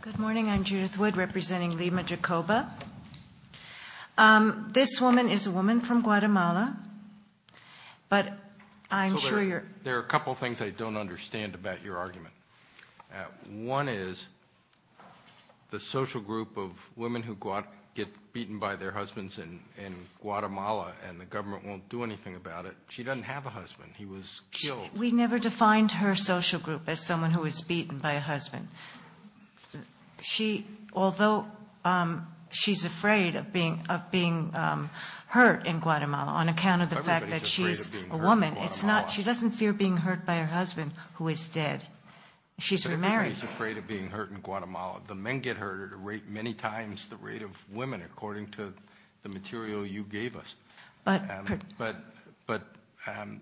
Good morning. I'm Judith Wood representing Lima Jacobo. This woman is a woman from Guatemala, but I'm sure you're... There are a couple of things I don't understand about your argument. One is the social group of women who get beaten by their husbands in Guatemala, and the government won't do anything about it. She doesn't have a husband. He was killed. We never defined her social group as someone who was beaten by a husband. Although she's afraid of being hurt in Guatemala on account of the fact that she's a woman, she doesn't fear being hurt by her husband, who is dead. She's remarried. Everybody's afraid of being hurt in Guatemala. The men get hurt at many times the rate of women, according to the material you gave us. But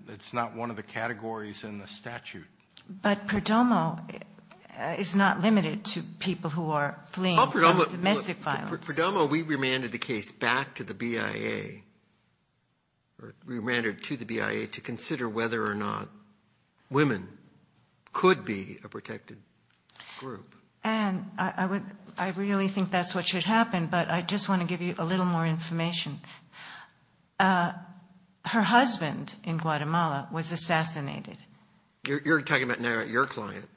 it's not one of the categories in the statute. But Perdomo is not limited to people who are fleeing domestic violence. Perdomo, we remanded the case back to the BIA or remanded it to the BIA to consider whether or not women could be a protected group. Anne, I really think that's what should happen, but I just want to give you a little more information. Her husband in Guatemala was assassinated. You're talking about now your client.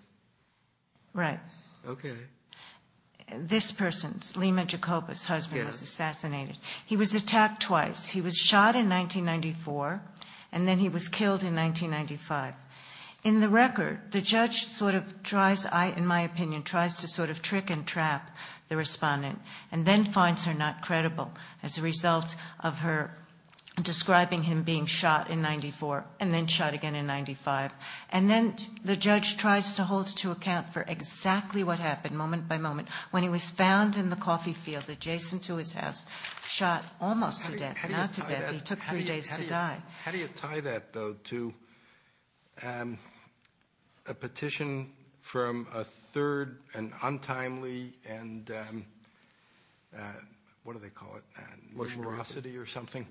Right. Okay. This person's, Lima Jacobus' husband was assassinated. He was attacked twice. He was shot in 1994, and then he was killed in 1995. In the record, the judge sort of tries, I, in my opinion, tries to sort of trick and trap the respondent and then finds her not credible as a result of her describing him being shot in 1994 and then shot again in 1995. And then the judge tries to hold to account for exactly what happened moment by moment when he was found in the coffee field adjacent to his house, shot almost to death, not to death. He took three days to die. How do you tie that, though, to a petition from a third and untimely and, what do they call it, numerosity or something,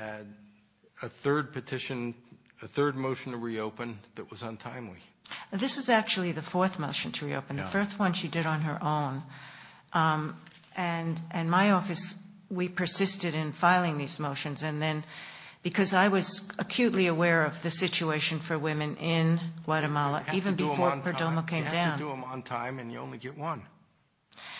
a third petition, a third motion to reopen that was untimely? This is actually the fourth motion to reopen, the third one she did on her own. And my office, we persisted in filing these motions. And then because I was acutely aware of the situation for women in Guatemala even before Perdomo came down. You have to do them on time, and you only get one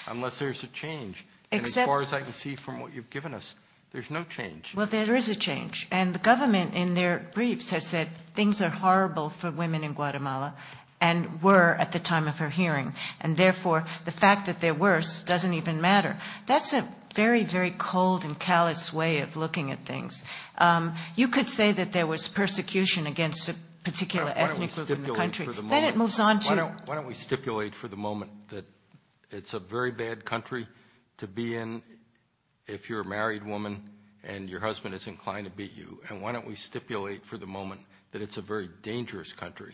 unless there's a change. And as far as I can see from what you've given us, there's no change. Well, there is a change. And the government in their briefs has said things are horrible for women in Guatemala and were at the time of her hearing. And, therefore, the fact that they're worse doesn't even matter. That's a very, very cold and callous way of looking at things. You could say that there was persecution against a particular ethnic group in the country. Why don't we stipulate for the moment that it's a very bad country to be in if you're a married woman and your husband is inclined to beat you. And why don't we stipulate for the moment that it's a very dangerous country.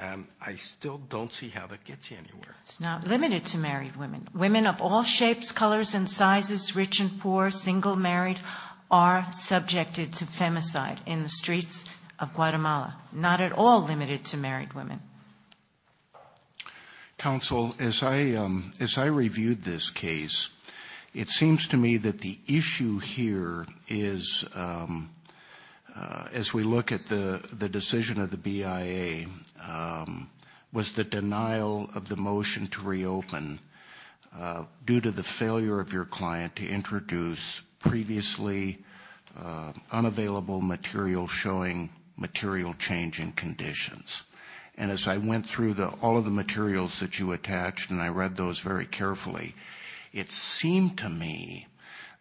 I still don't see how that gets you anywhere. It's not limited to married women. Women of all shapes, colors, and sizes, rich and poor, single, married, are subjected to femicide in the streets of Guatemala. Not at all limited to married women. Counsel, as I reviewed this case, it seems to me that the issue here is, as we look at the decision of the BIA, was the denial of the motion to reopen due to the failure of your client to introduce previously unavailable material showing material change in conditions. And as I went through all of the materials that you attached, and I read those very carefully, it seemed to me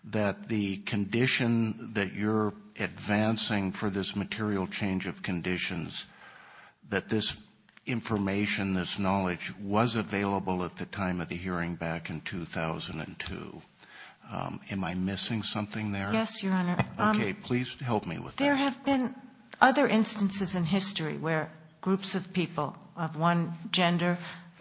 that the condition that you're advancing for this material change of conditions, that this information, this knowledge, was available at the time of the hearing back in 2002. Am I missing something there? Yes, Your Honor. Okay, please help me with that. There have been other instances in history where groups of people of one gender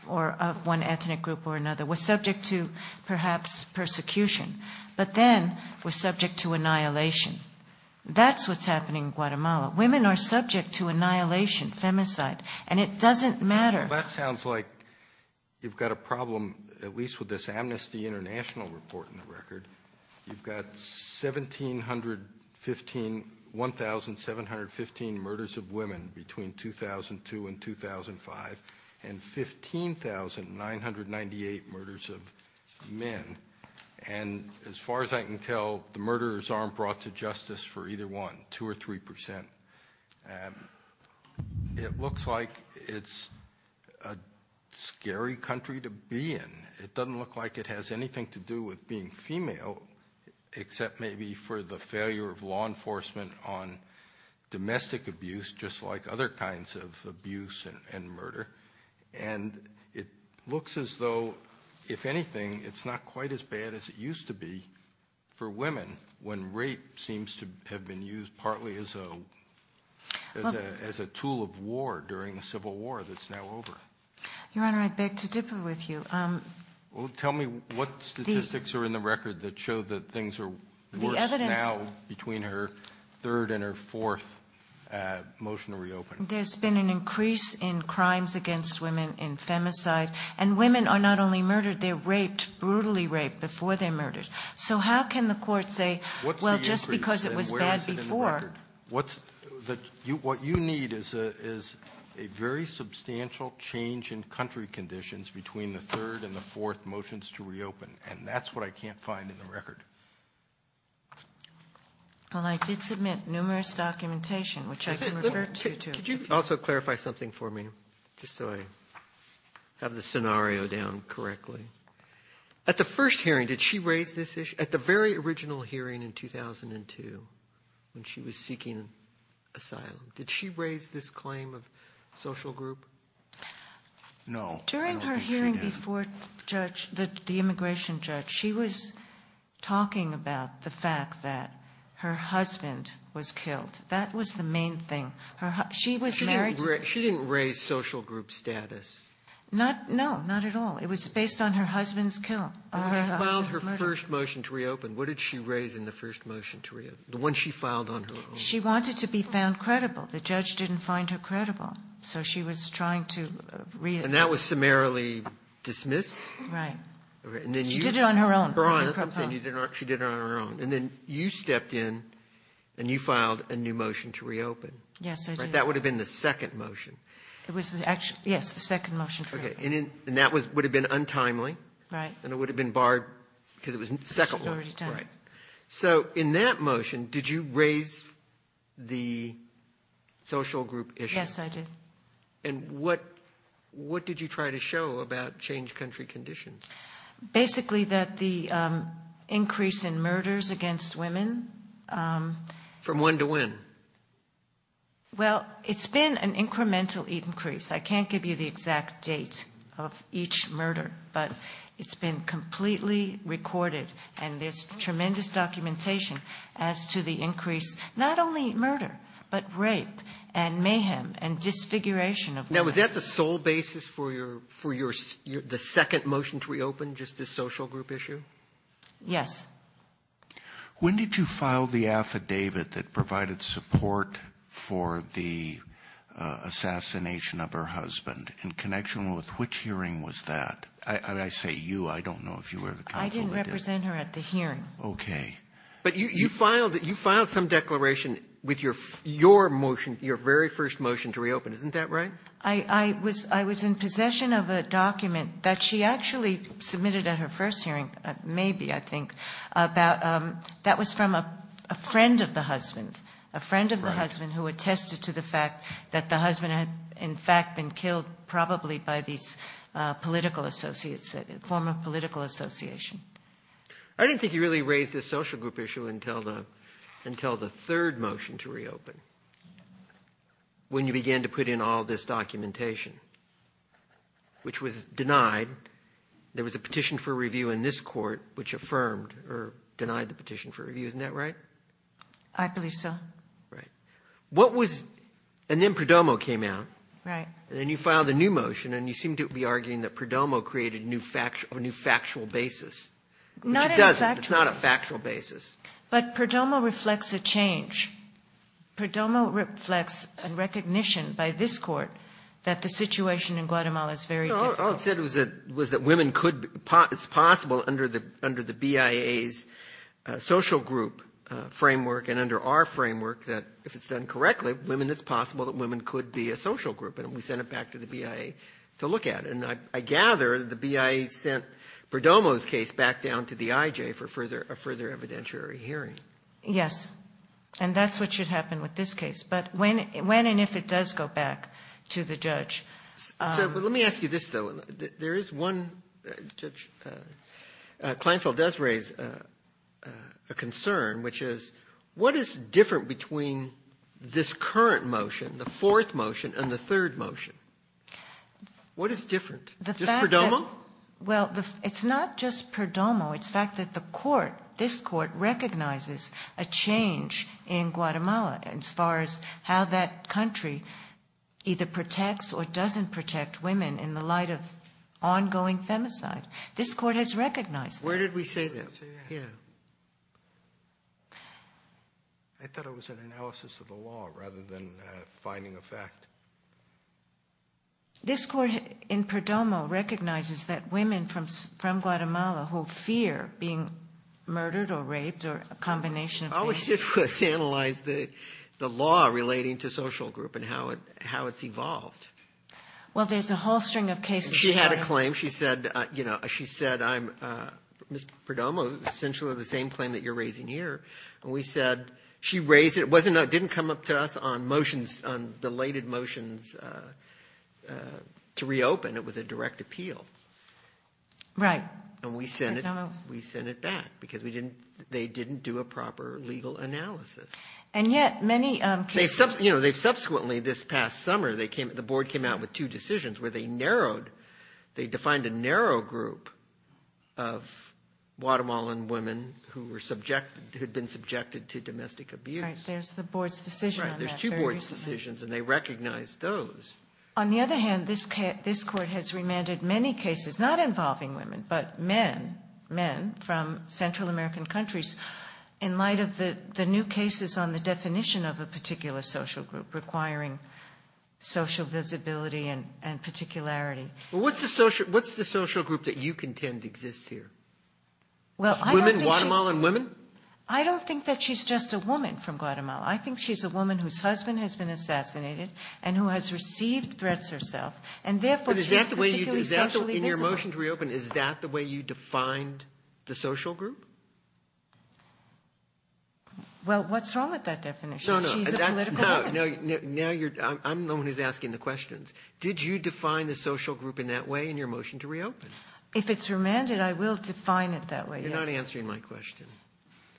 or of one ethnic group or another were subject to perhaps persecution, but then were subject to annihilation. That's what's happening in Guatemala. Women are subject to annihilation, femicide, and it doesn't matter. Well, that sounds like you've got a problem at least with this Amnesty International report in the record. You've got 1,715 murders of women between 2002 and 2005 and 15,998 murders of men. And as far as I can tell, the murderers aren't brought to justice for either one, 2% or 3%. It looks like it's a scary country to be in. It doesn't look like it has anything to do with being female, except maybe for the failure of law enforcement on domestic abuse, just like other kinds of abuse and murder. And it looks as though, if anything, it's not quite as bad as it used to be for women when rape seems to have been used partly as a tool of war during the Civil War that's now over. Your Honor, I beg to differ with you. Well, tell me what statistics are in the record that show that things are worse now between her third and her fourth motion to reopen. There's been an increase in crimes against women in femicide. And women are not only murdered, they're raped, brutally raped before they're murdered. So how can the court say, well, just because it was bad before— is a very substantial change in country conditions between the third and the fourth motions to reopen. And that's what I can't find in the record. Well, I did submit numerous documentation, which I can refer to, too. Could you also clarify something for me, just so I have the scenario down correctly? At the first hearing, did she raise this issue? At the very original hearing in 2002 when she was seeking asylum, did she raise this claim of social group? No, I don't think she did. During her hearing before the immigration judge, she was talking about the fact that her husband was killed. That was the main thing. She was married to— She didn't raise social group status. No, not at all. It was based on her husband's kill. When she filed her first motion to reopen, what did she raise in the first motion to reopen, the one she filed on her own? She wanted to be found credible. The judge didn't find her credible, so she was trying to— And that was summarily dismissed? Right. She did it on her own. I'm saying she did it on her own. And then you stepped in and you filed a new motion to reopen. Yes, I did. That would have been the second motion. Yes, the second motion to reopen. And that would have been untimely. Right. And it would have been barred because it was the second one. She had already done it. Right. So in that motion, did you raise the social group issue? Yes, I did. And what did you try to show about change country conditions? Basically that the increase in murders against women— From when to when? Well, it's been an incremental increase. I can't give you the exact date of each murder, but it's been completely recorded, and there's tremendous documentation as to the increase, not only in murder, but rape and mayhem and disfiguration of women. Now, was that the sole basis for the second motion to reopen, just the social group issue? Yes. When did you file the affidavit that provided support for the assassination of her husband? In connection with which hearing was that? And I say you. I don't know if you were the counsel that did it. I didn't represent her at the hearing. Okay. But you filed some declaration with your motion, your very first motion to reopen. Isn't that right? I was in possession of a document that she actually submitted at her first hearing, maybe, I think, that was from a friend of the husband, a friend of the husband who attested to the fact that the husband had in fact been killed probably by these political associates, a former political association. I didn't think you really raised this social group issue until the third motion to reopen, when you began to put in all this documentation, which was denied. There was a petition for review in this court which affirmed or denied the petition for review. Isn't that right? I believe so. Right. What was – and then Perdomo came out. Right. And then you filed a new motion, and you seem to be arguing that Perdomo created a new factual basis. Not a factual. Which it doesn't. It's not a factual basis. But Perdomo reflects a change. Perdomo reflects a recognition by this Court that the situation in Guatemala is very difficult. All it said was that women could – it's possible under the BIA's social group framework and under our framework that if it's done correctly, women, it's possible that women could be a social group. And we sent it back to the BIA to look at it. And I gather the BIA sent Perdomo's case back down to the IJ for further – a further evidentiary hearing. Yes. And that's what should happen with this case. But when and if it does go back to the judge – So let me ask you this, though. There is one – Judge Kleinfeld does raise a concern, which is what is different between this current motion, the fourth motion, and the third motion? What is different? The fact that – Just Perdomo? Well, it's not just Perdomo. It's the fact that the Court, this Court, recognizes a change in Guatemala as far as how that country either protects or doesn't protect women in the light of ongoing femicide. This Court has recognized that. Where did we say that? Here. Thank you. I thought it was an analysis of the law rather than finding a fact. This Court in Perdomo recognizes that women from Guatemala who fear being murdered or raped or a combination of – Oh, it was analyzed – the law relating to social group and how it's evolved. Well, there's a whole string of cases – She had a claim. She said, I'm – Ms. Perdomo, essentially the same claim that you're raising here. And we said – she raised it. It didn't come up to us on motions, on belated motions to reopen. It was a direct appeal. Right. And we sent it back because they didn't do a proper legal analysis. And yet many cases – They've subsequently, this past summer, the Board came out with two decisions where they narrowed – they defined a narrow group of Guatemalan women who were subjected – who had been subjected to domestic abuse. Right. There's the Board's decision on that. Right. There's two Board's decisions, and they recognized those. On the other hand, this Court has remanded many cases, not involving women, but men, men from Central American countries, in light of the new cases on the definition of a particular social group requiring social visibility and particularity. Well, what's the social group that you contend exists here? Well, I don't think she's – Women, Guatemalan women? I don't think that she's just a woman from Guatemala. I think she's a woman whose husband has been assassinated and who has received threats herself. And therefore, she's particularly socially visible. But is that the way you – in your motion to reopen, is that the way you defined the social group? Well, what's wrong with that definition? She's a political woman. Now you're – I'm the one who's asking the questions. Did you define the social group in that way in your motion to reopen? If it's remanded, I will define it that way, yes. You're not answering my question.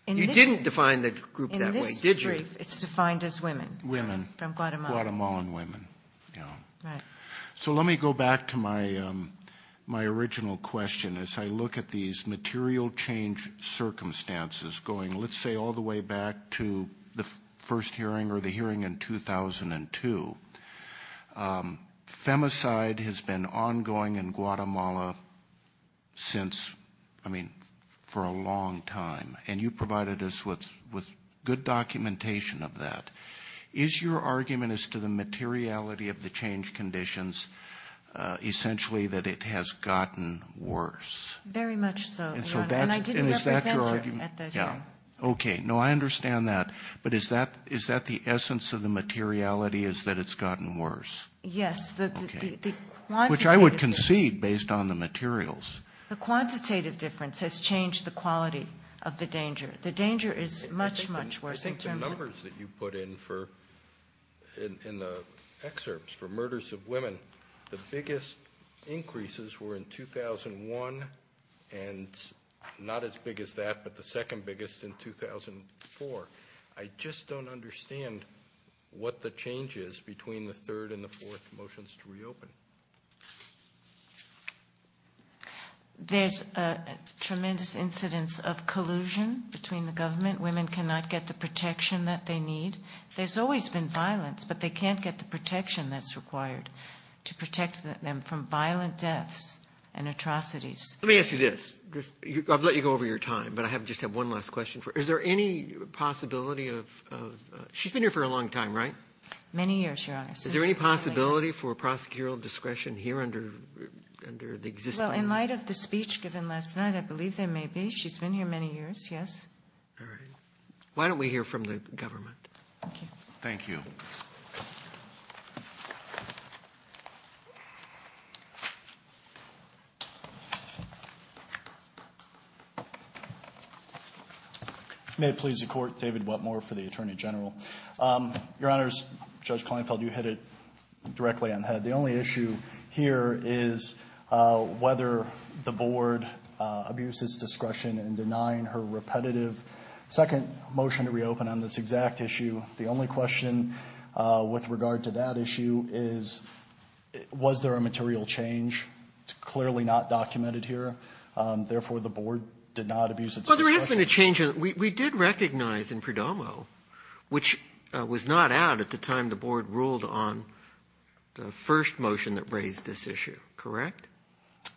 You didn't define the group that way, did you? In this brief, it's defined as women. Women. From Guatemala. Guatemalan women, yeah. Right. So let me go back to my original question. As I look at these material change circumstances, going, let's say, all the way back to the first hearing or the hearing in 2002, femicide has been ongoing in Guatemala since – I mean, for a long time. And you provided us with good documentation of that. Is your argument as to the materiality of the change conditions essentially that it has gotten worse? Very much so. And I didn't represent her at that hearing. Okay. No, I understand that. But is that the essence of the materiality is that it's gotten worse? Yes. Okay. Which I would concede based on the materials. The quantitative difference has changed the quality of the danger. The danger is much, much worse in terms of – I think the numbers that you put in for – in the excerpts for murders of women, the biggest increases were in 2001 and not as big as that, but the second biggest in 2004. I just don't understand what the change is between the third and the fourth motions to reopen. There's a tremendous incidence of collusion between the government. Women cannot get the protection that they need. There's always been violence, but they can't get the protection that's required to protect them from violent deaths and atrocities. Let me ask you this. I've let you go over your time, but I just have one last question for you. Is there any possibility of – she's been here for a long time, right? Many years, Your Honor. Is there any possibility for prosecutorial discretion here under the existing – Well, in light of the speech given last night, I believe there may be. She's been here many years, yes. All right. Why don't we hear from the government? Thank you. Thank you. May it please the Court, David Wetmore for the Attorney General. Your Honors, Judge Kleinfeld, you hit it directly on the head. The only issue here is whether the Board abuses discretion in denying her repetitive second motion to reopen on this exact issue. The only question with regard to that issue is was there a material change? It's clearly not documented here. Therefore, the Board did not abuse its discretion. Well, there has been a change. We did recognize in Perdomo, which was not out at the time the Board ruled on the first motion that raised this issue, correct?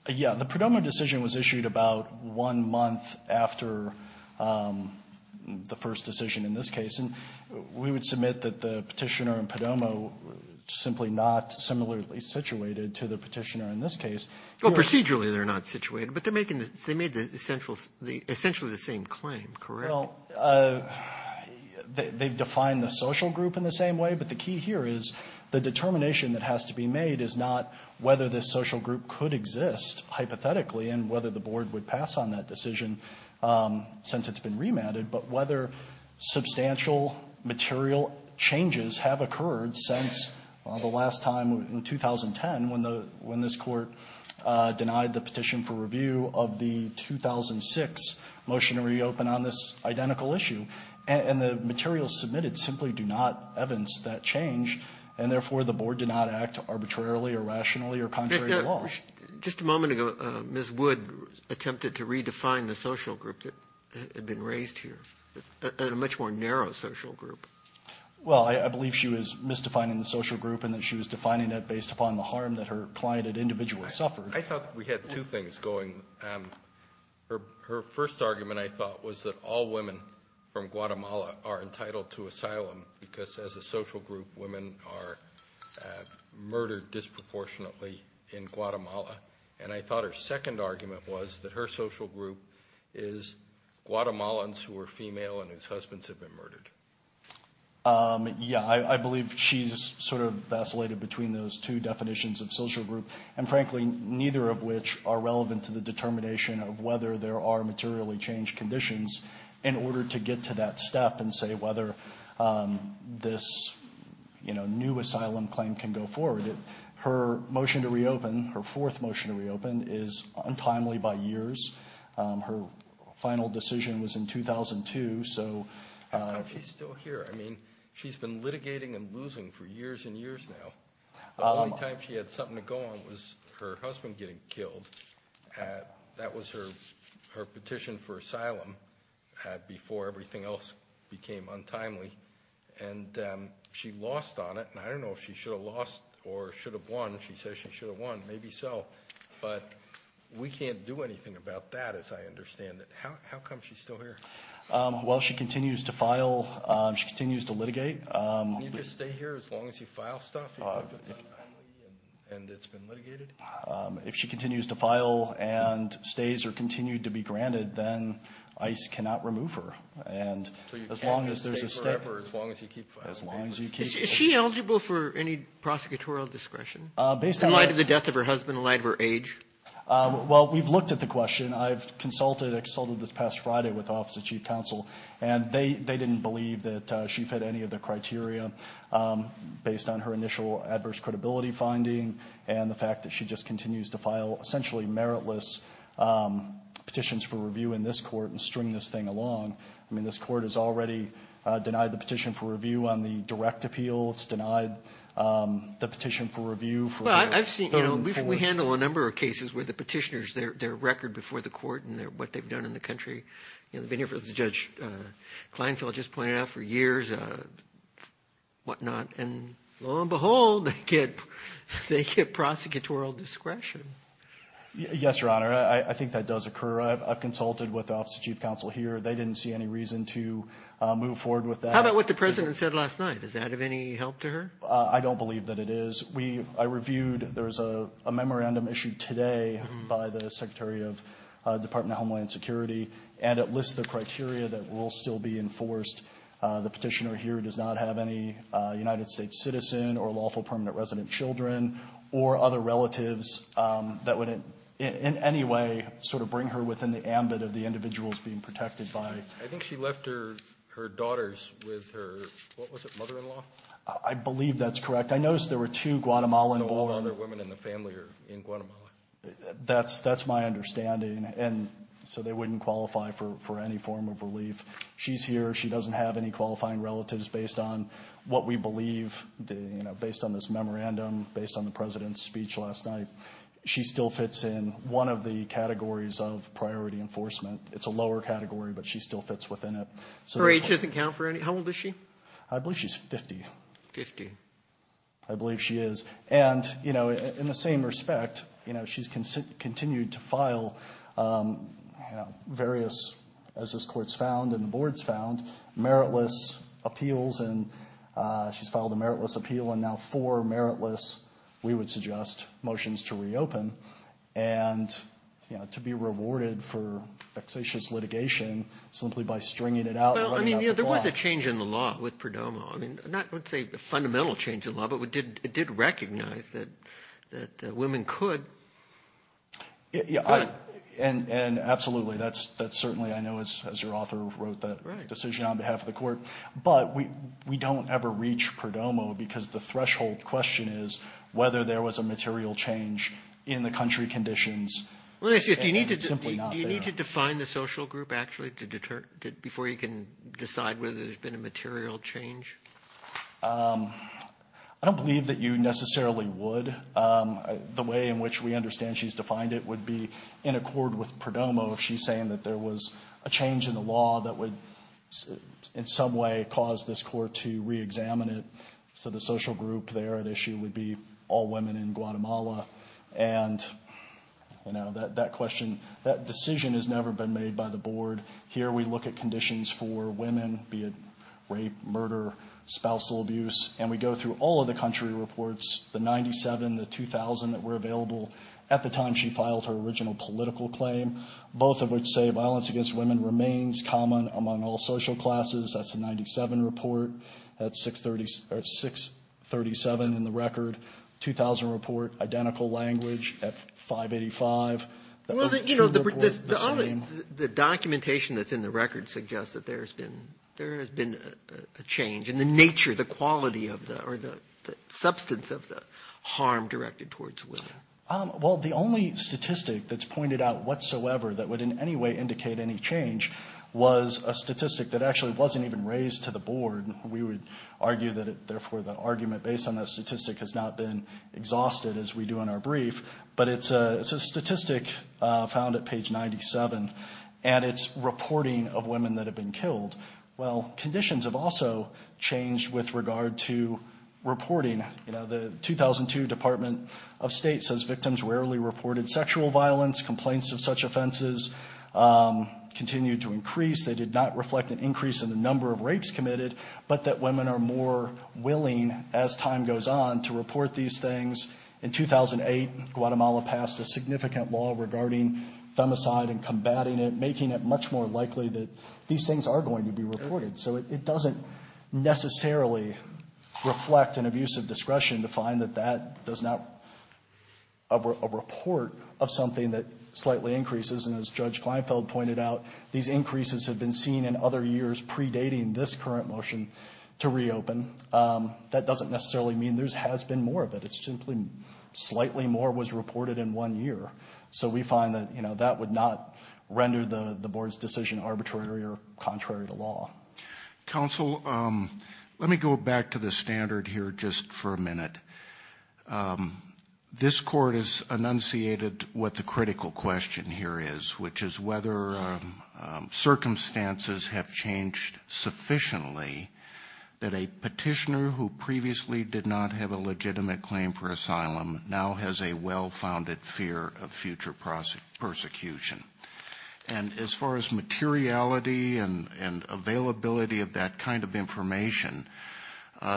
Yeah. The Perdomo decision was issued about one month after the first decision in this case. And we would submit that the Petitioner and Perdomo simply not similarly situated to the Petitioner in this case. Well, procedurally, they're not situated, but they're making the — they made the essential — the essentially the same claim, correct? Well, they've defined the social group in the same way, but the key here is the determination that has to be made is not whether this social group could exist hypothetically and whether the Board would pass on that decision since it's been remanded, but whether substantial material changes have occurred since the last time in 2010 when the — when this Court denied the petition for review of the 2006 motion to reopen on this identical issue. And the materials submitted simply do not evidence that change, and therefore, the Board did not act arbitrarily or rationally or contrary to law. Just a moment ago, Ms. Wood attempted to redefine the social group that had been raised here, a much more narrow social group. Well, I believe she was misdefining the social group and that she was defining that based upon the harm that her client had individually suffered. I thought we had two things going. Her first argument, I thought, was that all women from Guatemala are entitled to asylum because as a social group, women are murdered disproportionately in Guatemala. And I thought her second argument was that her social group is Guatemalans who are female and whose husbands have been murdered. Yeah. I believe she's sort of vacillated between those two definitions of social group, and frankly, neither of which are relevant to the determination of whether there are materially changed conditions in order to get to that step and say whether this, you know, new asylum claim can go forward. Her motion to reopen, her fourth motion to reopen, is untimely by years. Her final decision was in 2002. How come she's still here? I mean, she's been litigating and losing for years and years now. The only time she had something to go on was her husband getting killed. That was her petition for asylum before everything else became untimely. And she lost on it, and I don't know if she should have lost or should have won. She says she should have won, maybe so. But we can't do anything about that, as I understand it. How come she's still here? Well, she continues to file. She continues to litigate. Can you just stay here as long as you file stuff? And it's been litigated? If she continues to file and stays or continued to be granted, then ICE cannot remove her. And as long as there's a statement as long as you keep filing papers. Is she eligible for any prosecutorial discretion? In light of the death of her husband, in light of her age? Well, we've looked at the question. I've consulted this past Friday with the Office of Chief Counsel, and they didn't believe that she fit any of the criteria based on her initial adverse credibility finding and the fact that she just continues to file essentially meritless petitions for review in this Court and string this thing along. I mean, this Court has already denied the petition for review on the direct appeal. It's denied the petition for review for the third and fourth. Well, I've seen we handle a number of cases where the petitioners, their record before the Court and what they've done in the country. I've been here, as Judge Kleinfeld just pointed out, for years, whatnot. And lo and behold, they get prosecutorial discretion. Yes, Your Honor. I think that does occur. I've consulted with the Office of Chief Counsel here. They didn't see any reason to move forward with that. How about what the President said last night? Does that have any help to her? I don't believe that it is. We – I reviewed – there's a memorandum issued today by the Secretary of Department of Homeland Security, and it lists the criteria that will still be enforced. The petitioner here does not have any United States citizen or lawful permanent resident children or other relatives that would in any way sort of bring her within the ambit of the individuals being protected by it. I think she left her daughters with her – what was it, mother-in-law? I believe that's correct. I noticed there were two Guatemalan born – No, all the other women in the family are in Guatemala. That's my understanding. And so they wouldn't qualify for any form of relief. She's here. She doesn't have any qualifying relatives based on what we believe, based on this memorandum, based on the President's speech last night. She still fits in one of the categories of priority enforcement. It's a lower category, but she still fits within it. Her age doesn't count for any – how old is she? I believe she's 50. Fifty. I believe she is. And, you know, in the same respect, you know, she's continued to file various, as this Court's found and the Board's found, meritless appeals. And she's filed a meritless appeal and now four meritless, we would suggest, motions to reopen and, you know, to be rewarded for vexatious litigation simply by stringing it out. Well, I mean, you know, there was a change in the law with Perdomo. I mean, not, let's say, a fundamental change in the law, but it did recognize that women could. Yeah, and absolutely. That's certainly, I know, as your author wrote that decision on behalf of the Court. But we don't ever reach Perdomo because the threshold question is whether there was a material change in the country conditions. And it's simply not there. Do you need to define the social group, actually, to deter – before you can decide whether there's been a material change? I don't believe that you necessarily would. The way in which we understand she's defined it would be in accord with Perdomo if she's saying that there was a change in the law that would in some way cause this Court to reexamine it. So the social group there at issue would be all women in Guatemala. And, you know, that question, that decision has never been made by the Board. Here we look at conditions for women, be it rape, murder, spousal abuse, and we go through all of the country reports, the 97, the 2,000 that were available at the time she filed her original political claim, both of which say violence against women remains common among all social classes. That's a 97 report. That's 637 in the record. 2,000 report identical language at 585. The two report the same. Well, you know, the documentation that's in the record suggests that there has been a change in the nature, the quality of the – or the substance of the harm directed towards women. Well, the only statistic that's pointed out whatsoever that would in any way indicate any change was a statistic that actually wasn't even raised to the Board. We would argue that it – therefore, the argument based on that statistic has not been exhausted as we do in our brief. But it's a statistic found at page 97, and it's reporting of women that have been killed. Well, conditions have also changed with regard to reporting. You know, the 2002 Department of State says victims rarely reported sexual violence. Complaints of such offenses continue to increase. They did not reflect an increase in the number of rapes committed, but that women are more willing, as time goes on, to report these things. In 2008, Guatemala passed a significant law regarding femicide and combating it, making it much more likely that these things are going to be reported. So it doesn't necessarily reflect an abuse of discretion to find that that does not a report of something that slightly increases. And as Judge Kleinfeld pointed out, these increases have been seen in other years predating this current motion to reopen. That doesn't necessarily mean there has been more of it. It's simply slightly more was reported in one year. So we find that, you know, that would not render the Board's decision arbitrary or contrary to law. Counsel, let me go back to the standard here just for a minute. This Court has enunciated what the critical question here is, which is whether circumstances have changed sufficiently that a petitioner who previously did not have a legitimate claim for asylum now has a well-founded fear of future persecution. And as far as materiality and availability of that kind of information,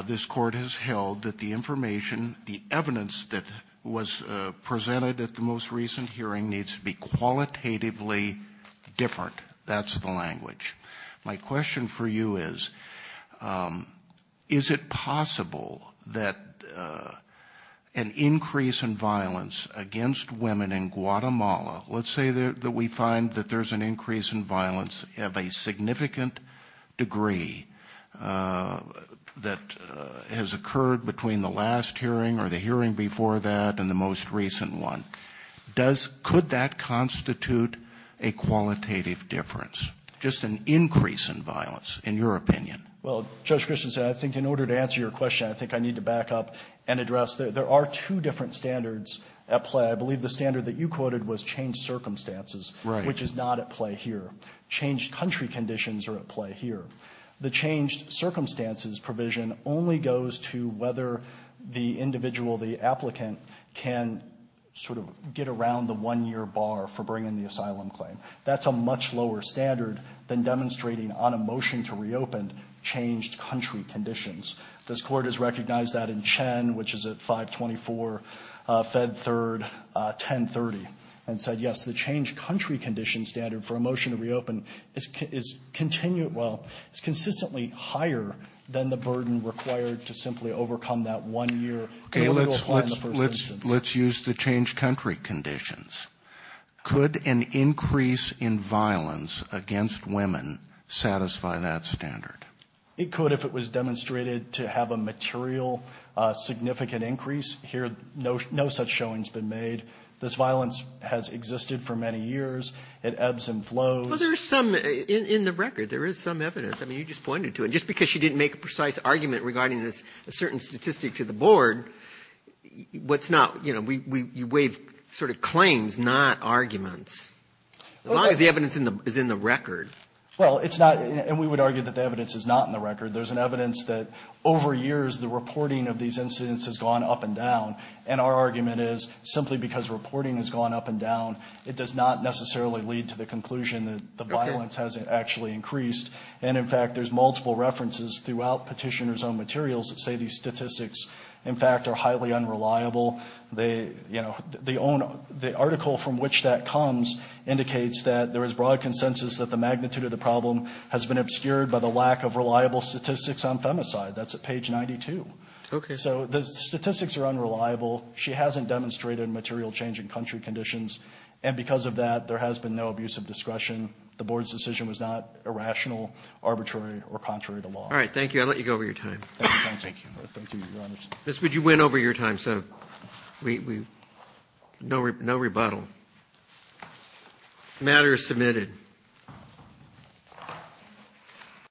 this Court has held that the information, the evidence that was presented at the most recent hearing needs to be qualitatively different. That's the language. My question for you is, is it possible that an increase in violence against women in Guatemala, let's say that we find that there's an increase in violence of a significant degree that has occurred between the last hearing or the hearing before that and the most recent one, does, could that constitute a qualitative difference, just an increase in violence in your opinion? Well, Judge Christensen, I think in order to answer your question, I think I need to back up and address that. There are two different standards at play. I believe the standard that you quoted was changed circumstances, which is not at play here. Changed country conditions are at play here. The changed circumstances provision only goes to whether the individual, the applicant, can sort of get around the one-year bar for bringing the asylum claim. That's a much lower standard than demonstrating on a motion to reopen changed country conditions. This Court has recognized that in Chen, which is at 524, Fed 3rd, 1030, and said, yes, the changed country condition standard for a motion to reopen is continued. Well, it's consistently higher than the burden required to simply overcome that one year. Okay. Let's use the changed country conditions. Could an increase in violence against women satisfy that standard? It could, if it was demonstrated to have a material significant increase here, no, no such showing has been made. This violence has existed for many years. It ebbs and flows. Well, there's some in the record. There is some evidence. I mean, you just pointed to it. Just because she didn't make a precise argument regarding this certain statistic to the board, what's not, you know, we waive sort of claims, not arguments. As long as the evidence is in the record. Well, it's not, and we would argue that the evidence is not in the record. There's an evidence that over years the reporting of these incidents has gone up and down. And our argument is simply because reporting has gone up and down. It does not necessarily lead to the conclusion that the violence hasn't actually increased. And in fact, there's multiple references throughout Petitioner's own materials that say these statistics, in fact, are highly unreliable. They, you know, the article from which that comes indicates that there is broad consensus that the magnitude of the problem has been obscured by the lack of reliable statistics on femicide. That's at page 92. Okay. So the statistics are unreliable. She hasn't demonstrated material change in country conditions. And because of that, there has been no abuse of discretion. The board's decision was not irrational, arbitrary, or contrary to law. All right. Thank you. I'll let you go over your time. Thank you. Thank you, Your Honor. Ms. Wood, you went over your time, so no rebuttal. The matter is submitted.